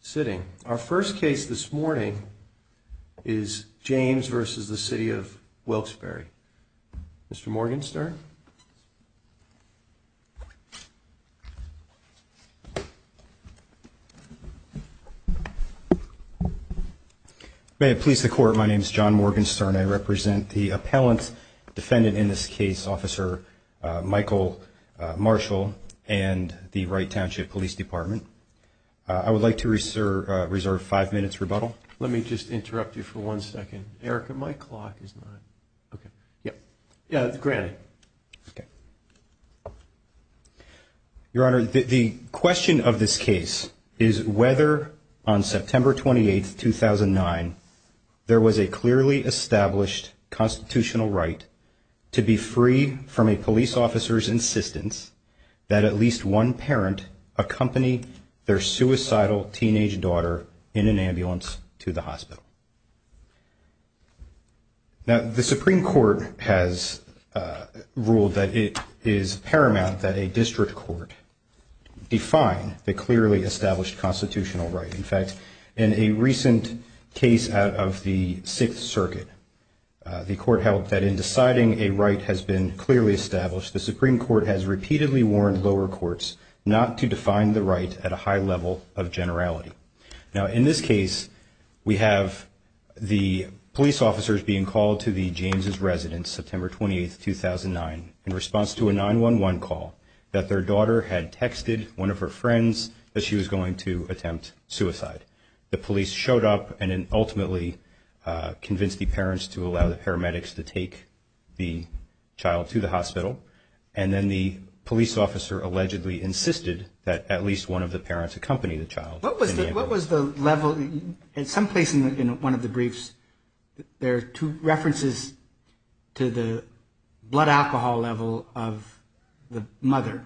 sitting. Our first case this morning is James versus the city of Wilkes-Barre. Mr. Morgenstern. May it please the court, my name is John Morgenstern. I represent the appellant defendant in this case, officer Michael Marshall and the Wright Township Police Department. I would like to reserve five minutes rebuttal. Let me just interrupt you for one second. Erica, my clock is not. OK. Yeah. Yeah, granted. OK. Your Honor, the question of this case is whether on September 28th, 2009, there was a clearly established constitutional right to be free from a police officer's insistence that at least one parent accompany their suicidal teenage daughter in an ambulance to the hospital. Now, the Supreme Court has ruled that it is paramount that a district court define the clearly established constitutional right. In fact, in a recent case out of the Sixth Circuit, the court held that in deciding a right has been clearly established. The Supreme Court has repeatedly warned lower courts not to define the right at a high level of generality. Now, in this case, we have the police officers being called to the James's residence September 28th, 2009, in response to a 911 call that their daughter had texted one of her friends that she was going to attempt suicide. The police showed up and ultimately convinced the parents to allow the paramedics to take the child to the hospital. And then the police officer allegedly insisted that at least one of the parents accompany the child. What was the level in some place in one of the briefs, there are two references to the blood alcohol level of the mother.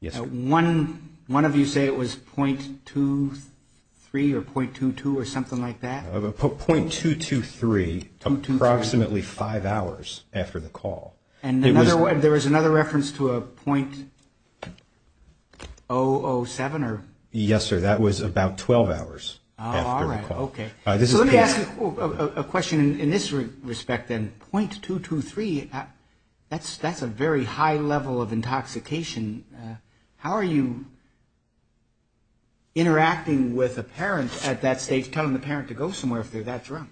Yes, one of you say it was .23 or .22 or something like that. Of a .223, approximately five hours after the call. And there was another reference to a .007 or? Yes, sir. That was about 12 hours. All right. Okay. So let me ask you a question in this respect then. .223, that's a very high level of intoxication. How are you interacting with a parent at that stage, telling the parent to go somewhere if they're that drunk?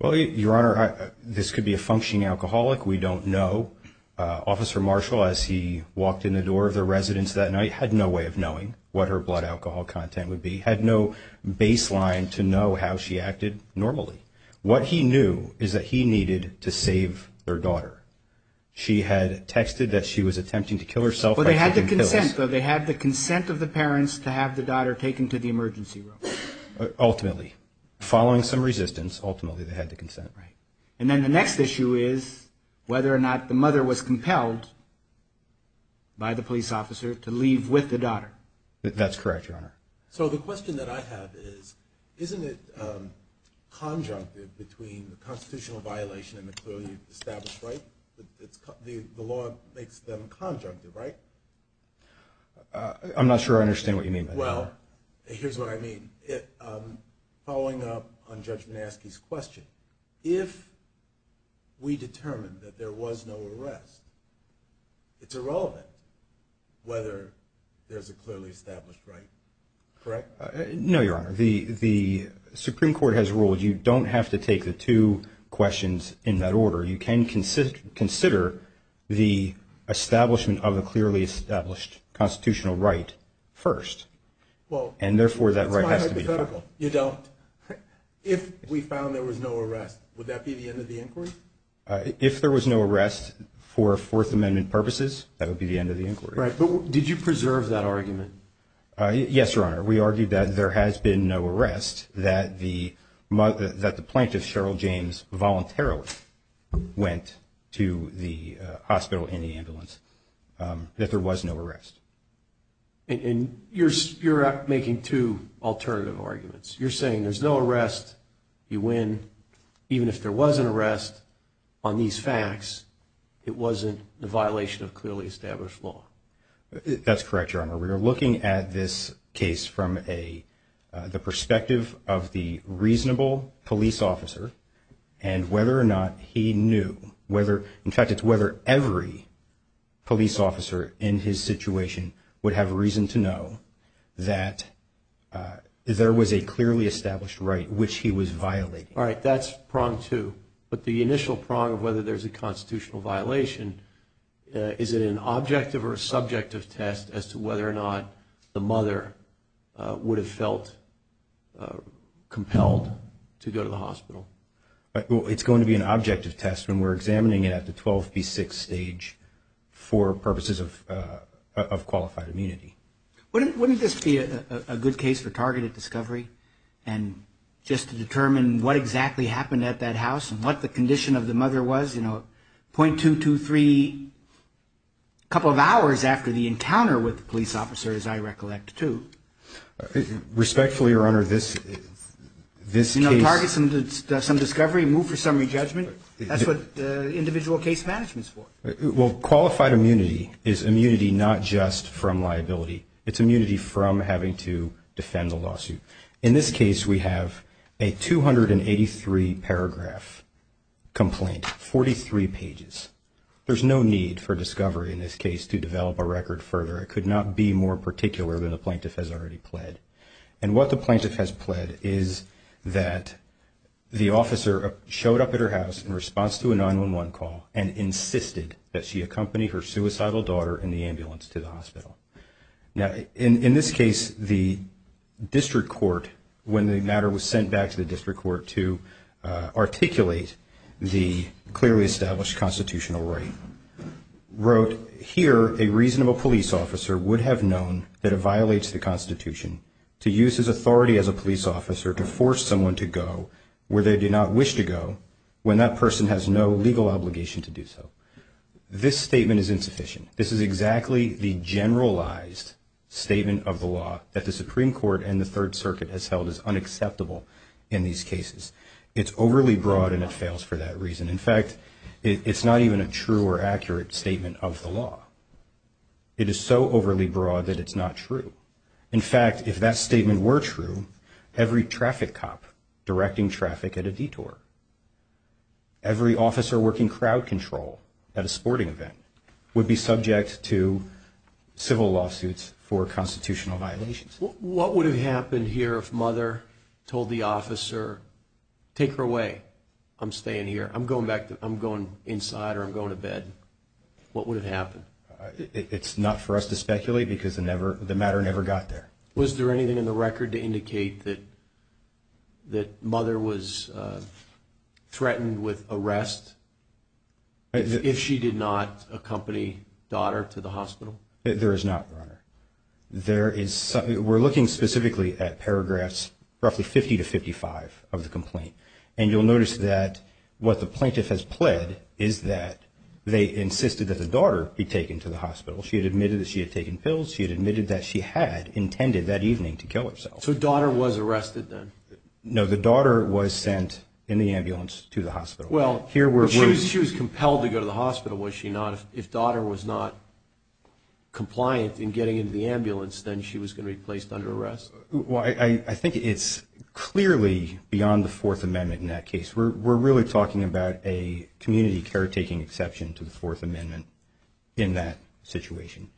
Well, Your Honor, this could be a functioning alcoholic, we don't know. Officer Marshall, as he walked in the door of the residence that night, had no way of knowing what her blood alcohol content would be. Had no baseline to know how she acted normally. What he knew is that he needed to save their daughter. She had texted that she was attempting to kill herself. But they had the consent, though. They had the consent of the parents to have the daughter taken to the emergency room. Ultimately, following some resistance, ultimately they had the consent. And then the next issue is whether or not the mother was compelled by the police officer to leave with the daughter. That's correct, Your Honor. So the question that I have is, isn't it conjunctive between the constitutional violation and the clearly established right? The law makes them conjunctive, right? I'm not sure I understand what you mean by that. Well, here's what I mean. Following up on Judge Manaske's question, if we determine that there was no arrest, it's irrelevant whether there's a clearly established right, correct? No, Your Honor. The Supreme Court has ruled you don't have to take the two questions in that order. You can consider the establishment of the clearly established constitutional right first. And therefore, that right has to be defined. You don't? If we found there was no arrest, would that be the end of the inquiry? If there was no arrest for Fourth Amendment purposes, that would be the end of the inquiry. Right, but did you preserve that argument? Yes, Your Honor. We argued that there has been no arrest, that the plaintiff, Cheryl James, voluntarily went to the hospital in the ambulance, that there was no arrest. And you're making two alternative arguments. You're saying there's no arrest, you win. Even if there was an arrest on these facts, it wasn't a violation of clearly established law. That's correct, Your Honor. We are looking at this case from the perspective of the reasonable police officer and whether or not he knew, in fact, it's whether every police officer in his situation would have reason to know that there was a clearly established right which he was violating. All right, that's prong two. But the initial prong of whether there's a constitutional violation, is it an objective or subjective test as to whether or not the mother would have felt compelled to go to the hospital? It's going to be an objective test, and we're examining it at the 12B6 stage for purposes of qualified immunity. Wouldn't this be a good case for targeted discovery and just to determine what exactly happened at that house and what the condition of the mother was, you know, 0.223, a couple of hours after the encounter with the police officer, as I recollect, too? Respectfully, Your Honor, this case... Target some discovery, move for summary judgment? That's what individual case management's for. Well, qualified immunity is immunity not just from liability. It's immunity from having to defend the lawsuit. In this case, we have a 283-paragraph complaint, 43 pages. There's no need for discovery in this case to develop a record further. And what the plaintiff has pled is that the officer showed up at her house in response to a 911 call and insisted that she accompany her suicidal daughter in the ambulance to the hospital. Now, in this case, the district court, when the matter was sent back to the district court to articulate the clearly established constitutional right, wrote, Here, a reasonable police officer would have known that it violates the Constitution to use his authority as a police officer to force someone to go where they do not wish to go when that person has no legal obligation to do so. This statement is insufficient. This is exactly the generalized statement of the law that the Supreme Court and the Third Circuit has held as unacceptable in these cases. It's overly broad, and it fails for that reason. In fact, it's not even a true or accurate statement of the law. It is so overly broad that it's not true. In fact, if that statement were true, every traffic cop directing traffic at a detour, every officer working crowd control at a sporting event would be subject to civil lawsuits for constitutional violations. What would have happened here if mother told the officer, take her away? I'm staying here. I'm going back. I'm going inside or I'm going to bed. What would have happened? It's not for us to speculate because the matter never got there. Was there anything in the record to indicate that mother was threatened with arrest if she did not accompany daughter to the hospital? There is not, Your Honor. We're looking specifically at paragraphs roughly 50 to 55 of the complaint. And you'll notice that what the plaintiff has pled is that they insisted that the daughter be taken to the hospital. She had admitted that she had taken pills. She had admitted that she had intended that evening to kill herself. So daughter was arrested then? No, the daughter was sent in the ambulance to the hospital. Well, she was compelled to go to the hospital, was she not? If daughter was not compliant in getting into the ambulance, then she was going to be placed under arrest? Well, I think it's clearly beyond the Fourth Amendment in that case. We're really talking about a community caretaking exception to the Fourth Amendment in that situation.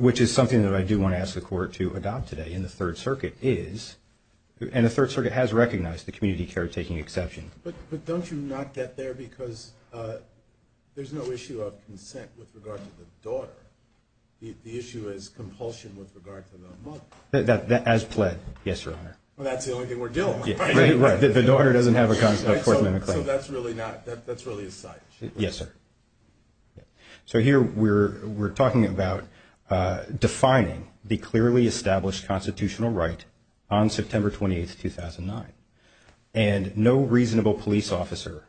Which is something that I do want to ask the Court to adopt today in the Third Circuit is, and the Third Circuit has recognized the community caretaking exception. But don't you not get there because there's no issue of consent with regard to the daughter. The issue is compulsion with regard to the mother. That has pled, yes, Your Honor. Well, that's the only thing we're dealing with, right? The daughter doesn't have a Fourth Amendment claim. So that's really not, that's really a side issue? Yes, sir. So here we're talking about defining the clearly established constitutional right on September 28th, 2009. And no reasonable police officer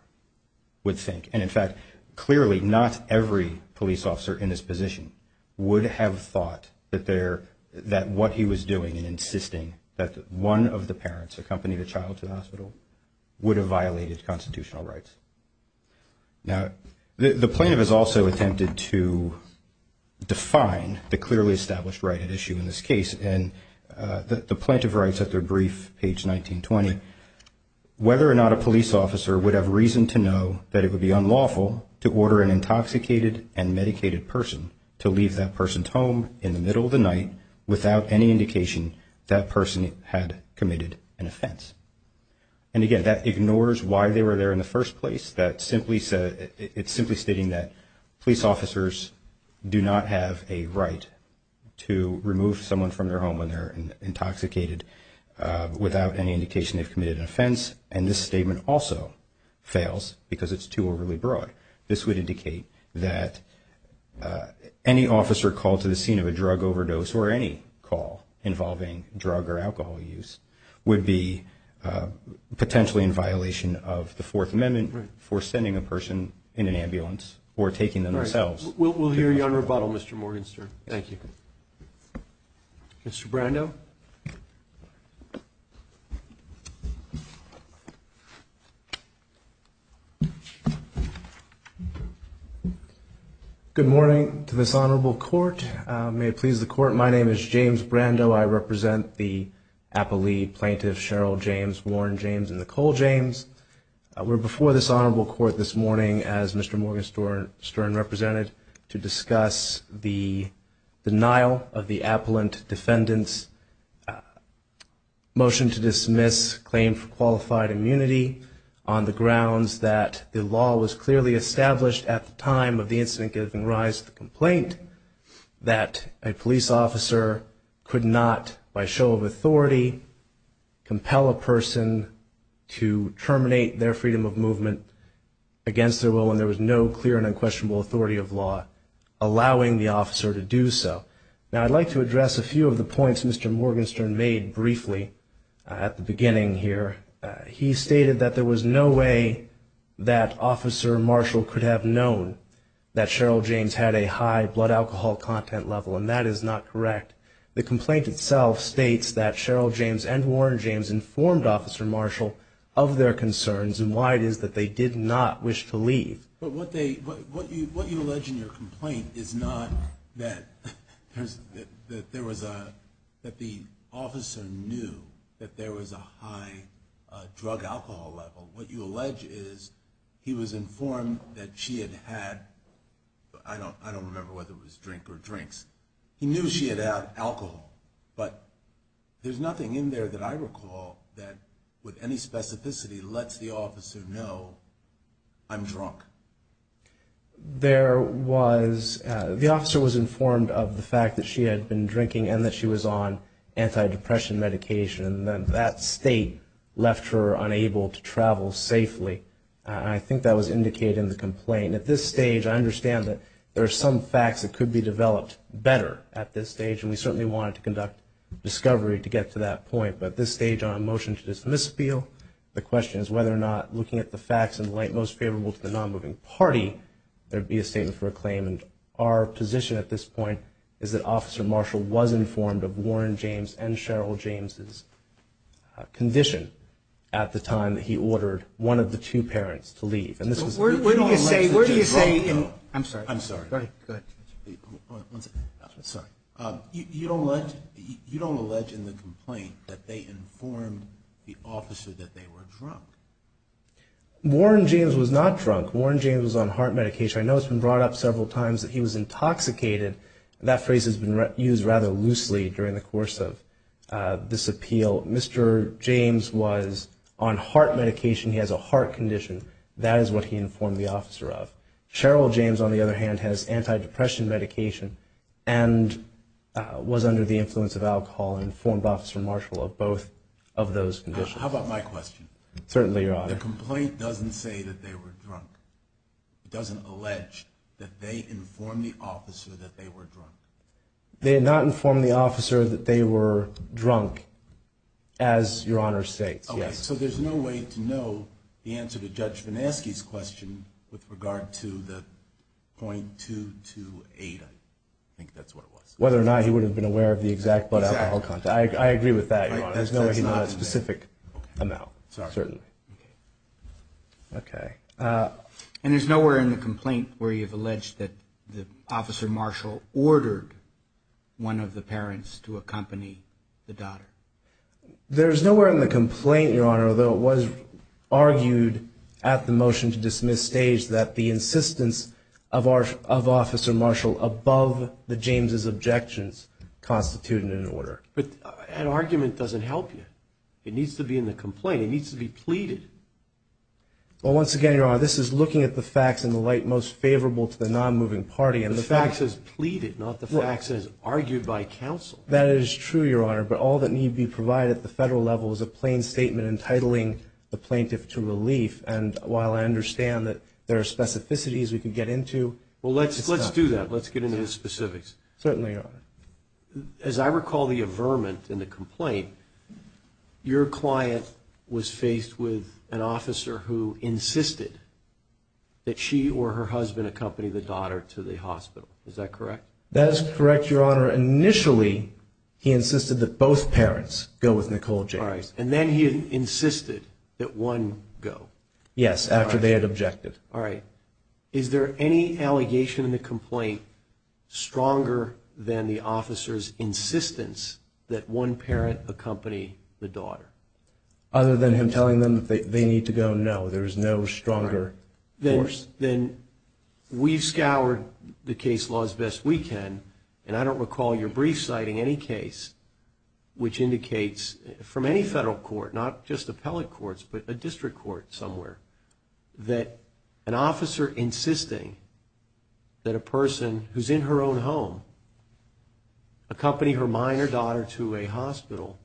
would think, and in fact, clearly not every police officer in this position would have thought that what he was doing and insisting that one of the parents accompany the child to the hospital would have violated constitutional rights. Now, the plaintiff has also attempted to define the clearly established right at issue in this case. And the plaintiff writes at their brief, page 1920, whether or not a police officer would have reason to know that it would be unlawful to order an intoxicated and medicated person to leave that person's home in the middle of the night And again, that ignores why they were there in the first place. It's simply stating that police officers do not have a right to remove someone from their home when they're intoxicated without any indication they've committed an offense. And this statement also fails because it's too overly broad. This would indicate that any officer called to the scene of a drug overdose, or any call involving drug or alcohol use, would be potentially in violation of the Fourth Amendment for sending a person in an ambulance or taking them themselves. We'll hear you on rebuttal, Mr. Morgenstern. Thank you. Mr. Brando? Good morning to this Honorable Court. May it please the Court, my name is James Brando. I represent the Appalee plaintiffs, Cheryl James, Warren James, and Nicole James. We're before this Honorable Court this morning, as Mr. Morgenstern represented, to discuss the denial of the appellant defendant's right to leave the home motion to dismiss claim for qualified immunity on the grounds that the law was clearly established at the time of the incident giving rise to the complaint that a police officer could not, by show of authority, compel a person to terminate their freedom of movement against their will, when there was no clear and unquestionable authority of law allowing the officer to do so. Now, I'd like to address a few of the points Mr. Morgenstern made briefly at the beginning here. He stated that there was no way that Officer Marshall could have known that Cheryl James had a high blood alcohol content level, and that is not correct. The complaint itself states that Cheryl James and Warren James informed Officer Marshall of their concerns and why it is that they did not wish to leave. But what they, what you allege in your complaint is not that there was a, that the officer knew that there was a high drug alcohol level. What you allege is he was informed that she had had, I don't remember whether it was drink or drinks, he knew she had had alcohol, but there's nothing in there that I recall that with any specificity I'm drunk. There was, the officer was informed of the fact that she had been drinking and that she was on antidepressant medication, and then that state left her unable to travel safely. I think that was indicated in the complaint. At this stage, I understand that there are some facts that could be developed better at this stage, and we certainly wanted to conduct discovery to get to that point. But at this stage, on a motion to dismiss appeal, the question is whether or not looking at the facts in the light most favorable to the non-moving party, there would be a statement for a claim. And our position at this point is that Officer Marshall was informed of Warren James and Cheryl James's condition at the time that he ordered one of the two parents to leave. And this was, where do you say, where do you say in, I'm sorry. I'm sorry. Go ahead. One second. Sorry. You don't allege in the complaint that they informed the officer that they were drunk. Warren James was not drunk. Warren James was on heart medication. I know it's been brought up several times that he was intoxicated. That phrase has been used rather loosely during the course of this appeal. Mr. James was on heart medication. He has a heart condition. That is what he informed the officer of. Cheryl James, on the other hand, has antidepressant medication and was under the influence of alcohol and informed Officer Marshall of both of those conditions. How about my question? Certainly, Your Honor. The complaint doesn't say that they were drunk. It doesn't allege that they informed the officer that they were drunk. They did not inform the officer that they were drunk, as Your Honor states, yes. Okay. So there's no way to know the answer to Judge Vineski's question with regard to the .228. I think that's what it was. Whether or not he would have been aware of the exact blood alcohol content. I agree with that, Your Honor. There's no way to know a specific amount, certainly. Okay. And there's nowhere in the complaint where you've alleged that Officer Marshall ordered one of the parents to accompany the daughter. There's nowhere in the complaint, Your Honor, although it was argued at the motion-to-dismiss stage that the insistence of Officer Marshall above the James' objections constituted an order. But an argument doesn't help you. It needs to be in the complaint. It needs to be pleaded. Well, once again, Your Honor, this is looking at the facts in the light most favorable to the nonmoving party. The facts is pleaded, not the facts is argued by counsel. That is true, Your Honor, but all that need be provided at the federal level is a plain statement entitling the plaintiff to relief. And while I understand that there are specificities we can get into. Well, let's do that. Let's get into the specifics. Certainly, Your Honor. As I recall the averment in the complaint, your client was faced with an officer who insisted that she or her husband accompany the daughter to the hospital. Is that correct? That is correct, Your Honor. Initially, he insisted that both parents go with Nicole James. All right. And then he insisted that one go. Yes, after they had objected. All right. Is there any allegation in the complaint stronger than the officer's insistence that one parent accompany the daughter? Other than him telling them that they need to go, no. There is no stronger force. Then we've scoured the case laws best we can, and I don't recall your brief citing any case which indicates from any federal court, not just appellate courts, but a district court somewhere, that an officer insisting that a person who's in her own home accompany her minor daughter to a hospital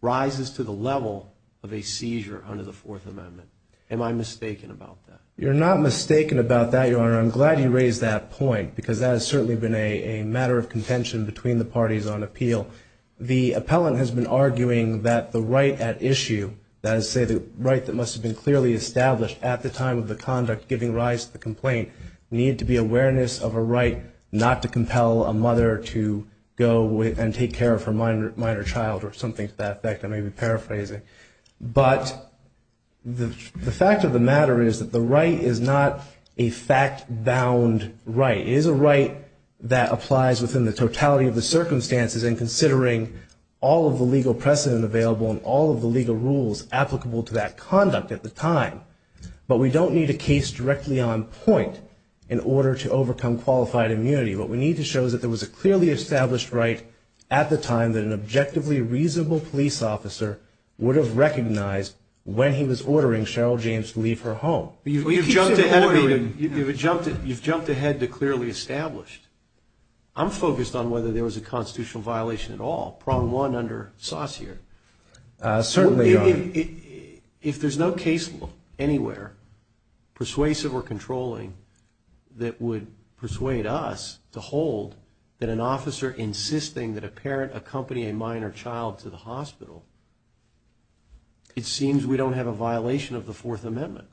rises to the level of a seizure under the Fourth Amendment. Am I mistaken about that? You're not mistaken about that, Your Honor. I'm glad you raised that point because that has certainly been a matter of contention between the parties on appeal. The appellant has been arguing that the right at issue, that is to say the right that must have been clearly established at the time of the conduct giving rise to the complaint, needed to be awareness of a right not to compel a mother to go and take care of her minor child or something to that effect. I may be paraphrasing. But the fact of the matter is that the right is not a fact-bound right. It is a right that applies within the totality of the circumstances and considering all of the legal precedent available and all of the legal rules applicable to that conduct at the time. But we don't need a case directly on point in order to overcome qualified immunity. What we need to show is that there was a clearly established right at the time that an objectively reasonable police officer would have recognized when he was ordering Cheryl James to leave her home. You've jumped ahead to clearly established. I'm focused on whether there was a constitutional violation at all, prong one under Saussure. Certainly, Your Honor. If there's no case anywhere, persuasive or controlling, that would persuade us to hold that an officer insisting that a parent accompany a minor child to the hospital, it seems we don't have a violation of the Fourth Amendment.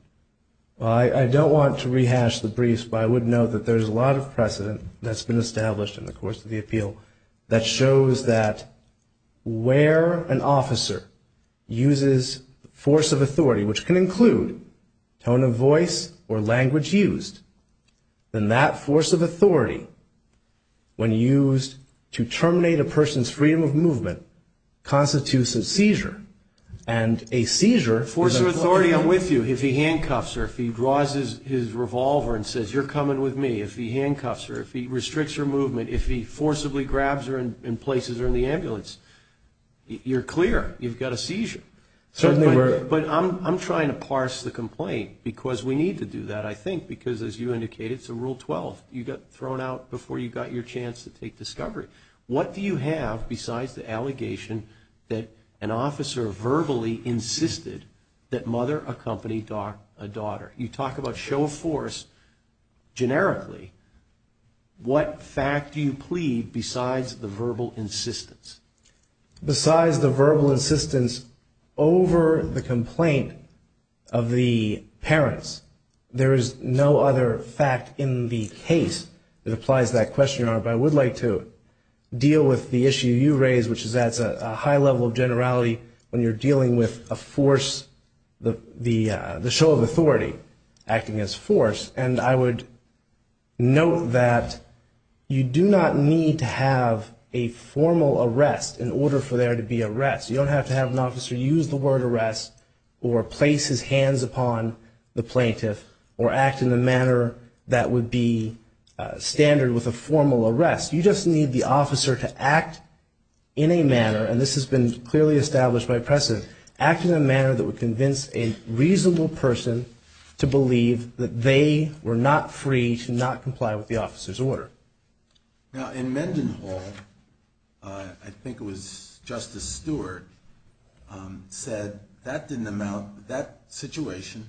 I don't want to rehash the briefs, but I would note that there's a lot of precedent that's been established in the course of the appeal that shows that where an officer uses force of authority, which can include tone of voice or language used, then that force of authority, when used to terminate a person's freedom of movement, constitutes a seizure. And a seizure... Force of authority, I'm with you. If he handcuffs her, if he draws his revolver and says, you're coming with me, if he handcuffs her, if he restricts her movement, if he forcibly grabs her in places or in the ambulance, you're clear. You've got a seizure. But I'm trying to parse the complaint, because we need to do that, I think, because as you indicated, it's a Rule 12. You got thrown out before you got your chance to take discovery. What do you have besides the allegation that an officer verbally insisted that mother accompany a daughter? You talk about show of force generically. What fact do you plead besides the verbal insistence? Besides the verbal insistence over the complaint of the parents, there is no other fact in the case that applies to that question, Your Honor. But I would like to deal with the issue you raised, which is that's a high level of generality when you're dealing with a force, the show of authority acting as force. And I would note that you do not need to have a formal arrest in order for there to be arrest. You don't have to have an officer use the word arrest or place his hands upon the plaintiff or act in a manner that would be standard with a formal arrest. You just need the officer to act in a manner, and this has been clearly established by precedent, act in a manner that would convince a reasonable person to believe that they were not free to not comply with the officer's order. Now, in Mendenhall, I think it was Justice Stewart said that didn't amount, that situation,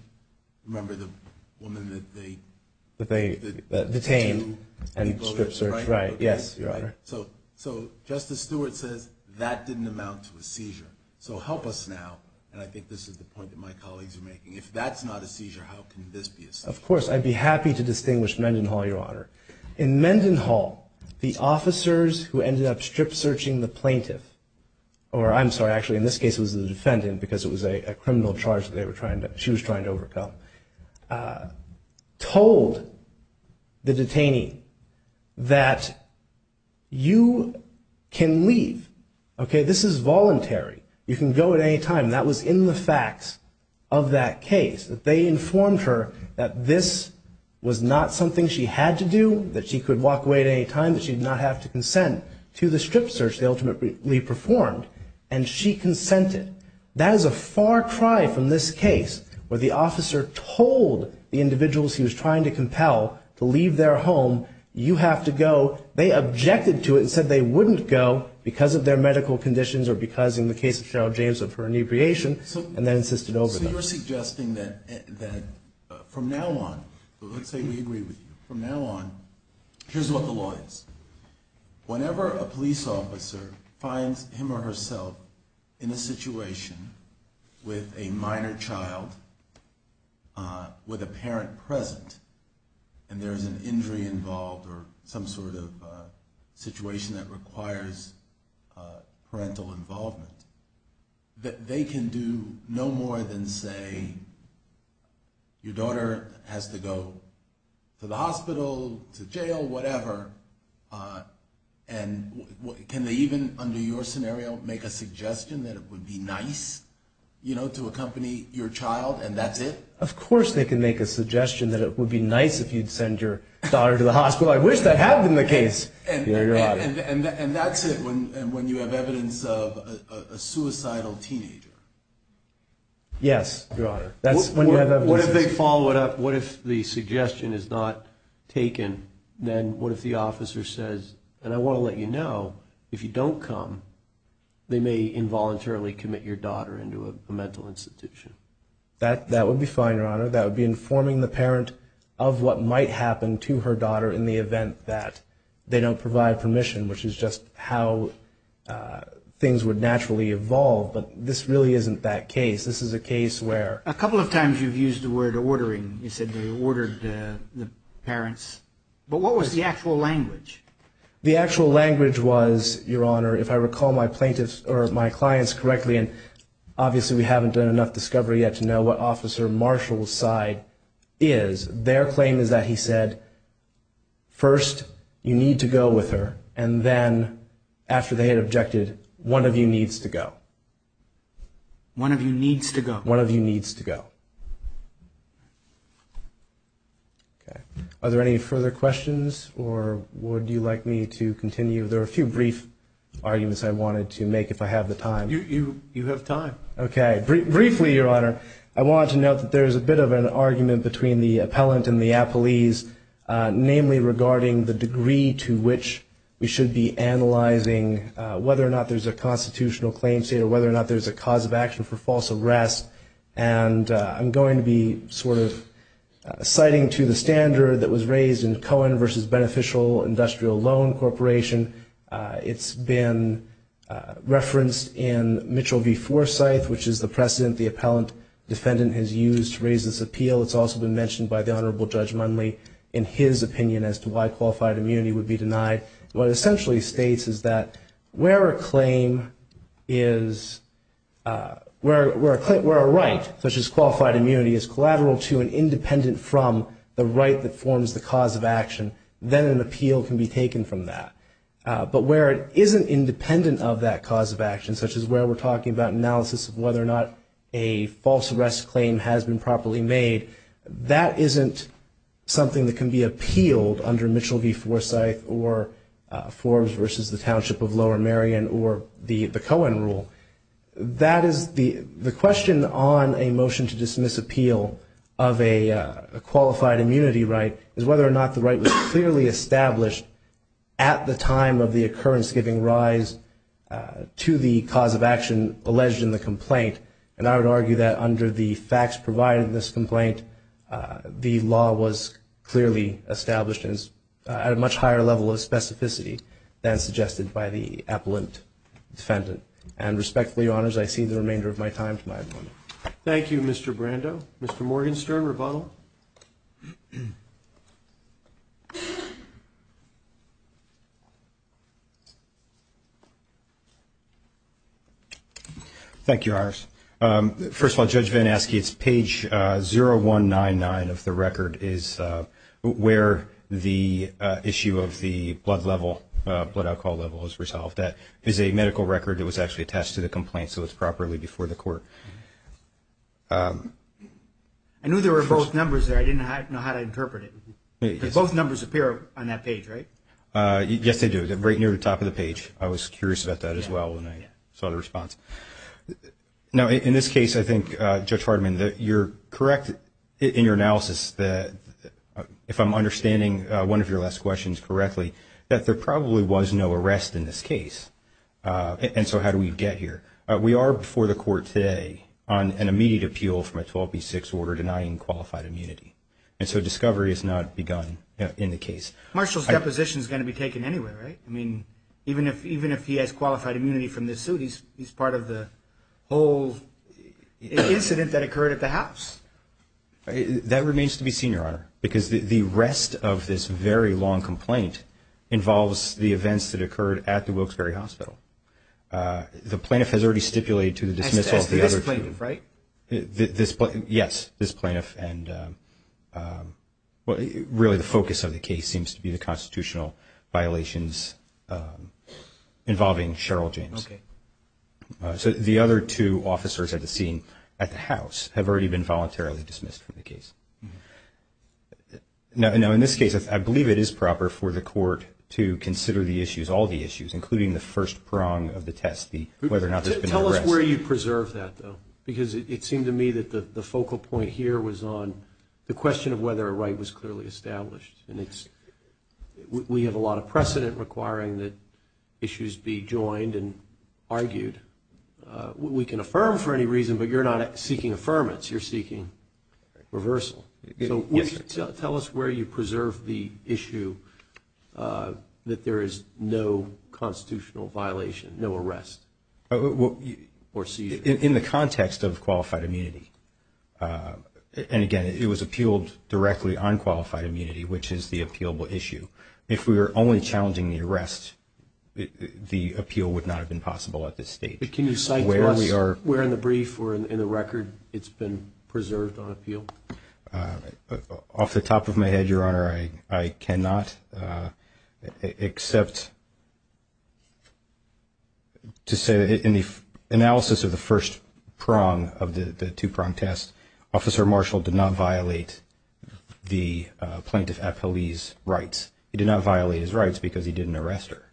remember the woman that they... That they detained and stripped her. So Justice Stewart says that didn't amount to a seizure. So help us now, and I think this is the point that my colleagues are making. If that's not a seizure, how can this be a seizure? Of course, I'd be happy to distinguish Mendenhall, Your Honor. In Mendenhall, the officers who ended up strip searching the plaintiff, or I'm sorry, actually in this case it was the defendant because it was a criminal charge that she was trying to overcome, told the detainee that you can leave. Okay, this is voluntary. You can go at any time. That was in the facts of that case, that they informed her that this was not something she had to do, that she could walk away at any time, that she did not have to consent to the strip search they ultimately performed, and she consented. That is a far cry from this case where the officer told the individuals he was trying to compel to leave their home, you have to go. They objected to it and said they wouldn't go because of their medical conditions or because in the case of Cheryl James of her inebriation, and then insisted over them. So you're suggesting that from now on, let's say we agree with you, from now on, here's what the law is. Whenever a police officer finds him or herself in a situation with a minor child, with a parent present, and there's an injury involved or some sort of situation that requires parental involvement, that they can do no more than say, your daughter has to go to the hospital, to jail, whatever, and can they even, under your scenario, make a suggestion that it would be nice to accompany your child and that's it? Of course they can make a suggestion that it would be nice if you'd send your daughter to the hospital. I wish that happened in the case. And that's it when you have evidence of a suicidal teenager? Yes, Your Honor. What if they follow it up? What if the suggestion is not taken? Then what if the officer says, and I want to let you know, if you don't come, they may involuntarily commit your daughter into a mental institution? That would be fine, Your Honor. That would be informing the parent of what might happen to her daughter in the event that they don't provide permission, which is just how things would naturally evolve, but this really isn't that case. A couple of times you've used the word ordering. You said they ordered the parents, but what was the actual language? The actual language was, Your Honor, if I recall my clients correctly, and obviously we haven't done enough discovery yet to know what Officer Marshall's side is, their claim is that he said, first, you need to go with her, and then after they had objected, one of you needs to go. One of you needs to go. Okay. Are there any further questions, or would you like me to continue? There are a few brief arguments I wanted to make, if I have the time. You have time. Okay. Briefly, Your Honor, I wanted to note that there is a bit of an argument between the appellant and the appellees, namely regarding the degree to which we should be analyzing whether or not there's a constitutional claim state or whether or not there's a cause of action for false arrest. And I'm going to be sort of citing to the standard that was raised in Cohen versus Beneficial Industrial Loan Corporation. It's been referenced in Mitchell v. Forsythe, which is the precedent the appellant defendant has used to raise this appeal. It's also been mentioned by the Honorable Judge Munley in his opinion as to why qualified immunity would be denied. What it essentially states is that where a right, such as qualified immunity, is collateral to and independent from the right that forms the cause of action, then an appeal can be taken from that. But where it isn't independent of that cause of action, such as where we're talking about analysis of whether or not a false arrest claim has been properly made, that isn't something that can be appealed under Mitchell v. Forsythe or Forbes versus the Township of Lower Marion or the Cohen rule. The question on a motion to dismiss appeal of a qualified immunity right is whether or not the right was clearly established at the time of the occurrence giving rise to the cause of action alleged in the complaint. And I would argue that under the facts provided in this complaint, the law was clearly established at a much higher level of specificity than suggested by the appellant defendant. And respectfully, Your Honors, I cede the remainder of my time to my opponent. Thank you, Mr. Brando. Mr. Morgenstern, rebuttal. Rebuttal. Thank you, Your Honors. First of all, Judge VanAske, it's page 0199 of the record is where the issue of the blood level, blood alcohol level is resolved. That is a medical record that was actually attached to the complaint, so it's properly before the court. I knew there were both numbers there. I didn't know how to interpret it. Both numbers appear on that page, right? Yes, they do, right near the top of the page. I was curious about that as well when I saw the response. Now, in this case, I think, Judge Fardiman, you're correct in your analysis that, if I'm understanding one of your last questions correctly, that there probably was no arrest in this case. And so how do we get here? We are before the court today on an immediate appeal from a 12B6 order denying qualified immunity. And so discovery has not begun in the case. Marshall's deposition is going to be taken anyway, right? I mean, even if he has qualified immunity from this suit, he's part of the whole incident that occurred at the house. That remains to be seen, Your Honor, because the rest of this very long complaint involves the events that occurred at the Wilkes-Barre Hospital. The plaintiff has already stipulated to the dismissal of the other two. This plaintiff, right? Yes, this plaintiff. Really, the focus of the case seems to be the constitutional violations involving Cheryl James. So the other two officers at the scene at the house have already been voluntarily dismissed from the case. Now, in this case, I believe it is proper for the court to consider the issues, all the issues, including the first prong of the test, whether or not there's been an arrest. Tell us where you preserve that, though, because it seemed to me that the focal point here was on the question of whether a right was clearly established. And we have a lot of precedent requiring that issues be joined and argued. We can affirm for any reason, but you're not seeking affirmance. You're seeking reversal. So tell us where you preserve the issue that there is no constitutional violation, no arrest or seizure. In the context of qualified immunity. And, again, it was appealed directly on qualified immunity, which is the appealable issue. If we were only challenging the arrest, the appeal would not have been possible at this stage. Can you cite where in the brief or in the record it's been preserved on appeal? Off the top of my head, Your Honor, I cannot except to say that in the analysis of the first prong of the two-prong test, Officer Marshall did not violate the plaintiff at police rights. He did not violate his rights because he didn't arrest her.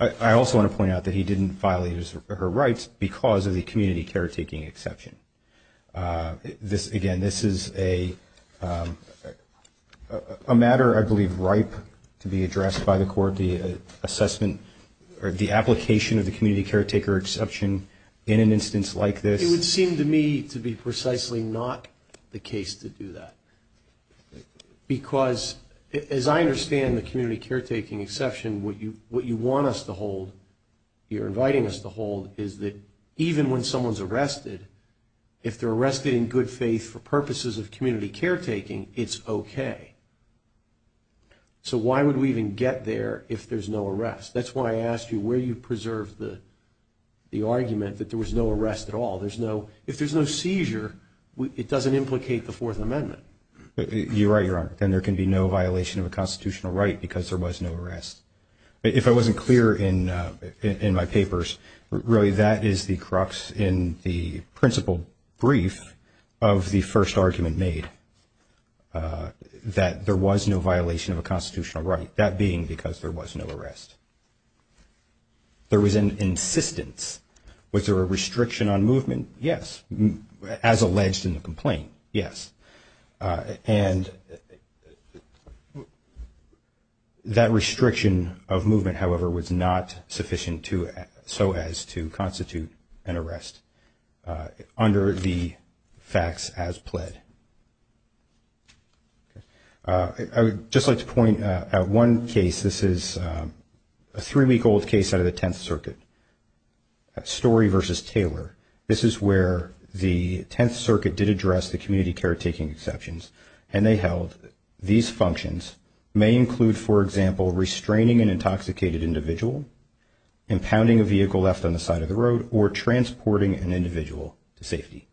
I also want to point out that he didn't violate her rights because of the community caretaking exception. Again, this is a matter I believe ripe to be addressed by the court, the assessment, or the application of the community caretaker exception in an instance like this. It would seem to me to be precisely not the case to do that. Because, as I understand the community caretaking exception, what you want us to hold, you're inviting us to hold, is that even when someone's arrested, if they're arrested in good faith for purposes of community caretaking, it's okay. So why would we even get there if there's no arrest? That's why I asked you where you preserved the argument that there was no arrest at all. If there's no seizure, it doesn't implicate the Fourth Amendment. You're right, Your Honor. Then there can be no violation of a constitutional right because there was no arrest. If I wasn't clear in my papers, really that is the crux in the principled brief of the first argument made, that there was no violation of a constitutional right, that being because there was no arrest. There was an insistence. Was there a restriction on movement? Yes. As alleged in the complaint, yes. And that restriction of movement, however, was not sufficient so as to constitute an arrest under the facts as pled. I would just like to point out one case. This is a three-week-old case out of the Tenth Circuit, Story v. Taylor. This is where the Tenth Circuit did address the community caretaking exceptions, and they held these functions may include, for example, restraining an intoxicated individual, impounding a vehicle left on the side of the road, or transporting an individual to safety.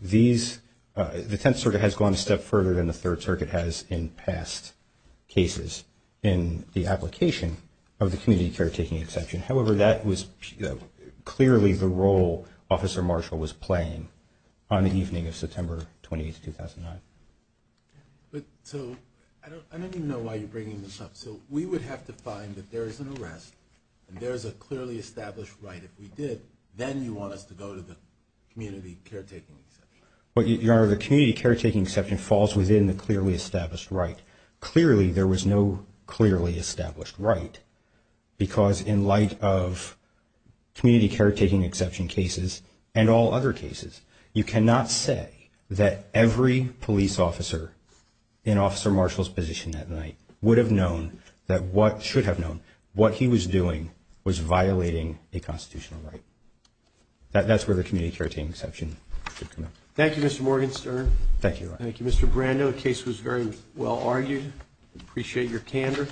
The Tenth Circuit has gone a step further than the Third Circuit has in past cases in the application of the community caretaking exception. However, that was clearly the role Officer Marshall was playing on the evening of September 28, 2009. So I don't even know why you're bringing this up. So we would have to find that there is an arrest and there is a clearly established right. If we did, then you want us to go to the community caretaking exception. Your Honor, the community caretaking exception falls within the clearly established right. Clearly there was no clearly established right because in light of community caretaking exception cases and all other cases, you cannot say that every police officer in Officer Marshall's position that night should have known what he was doing was violating a constitutional right. That's where the community caretaking exception should come in. Thank you, Mr. Morgenstern. Thank you, Your Honor. Thank you, Mr. Brando. The case was very well argued. We appreciate your candor.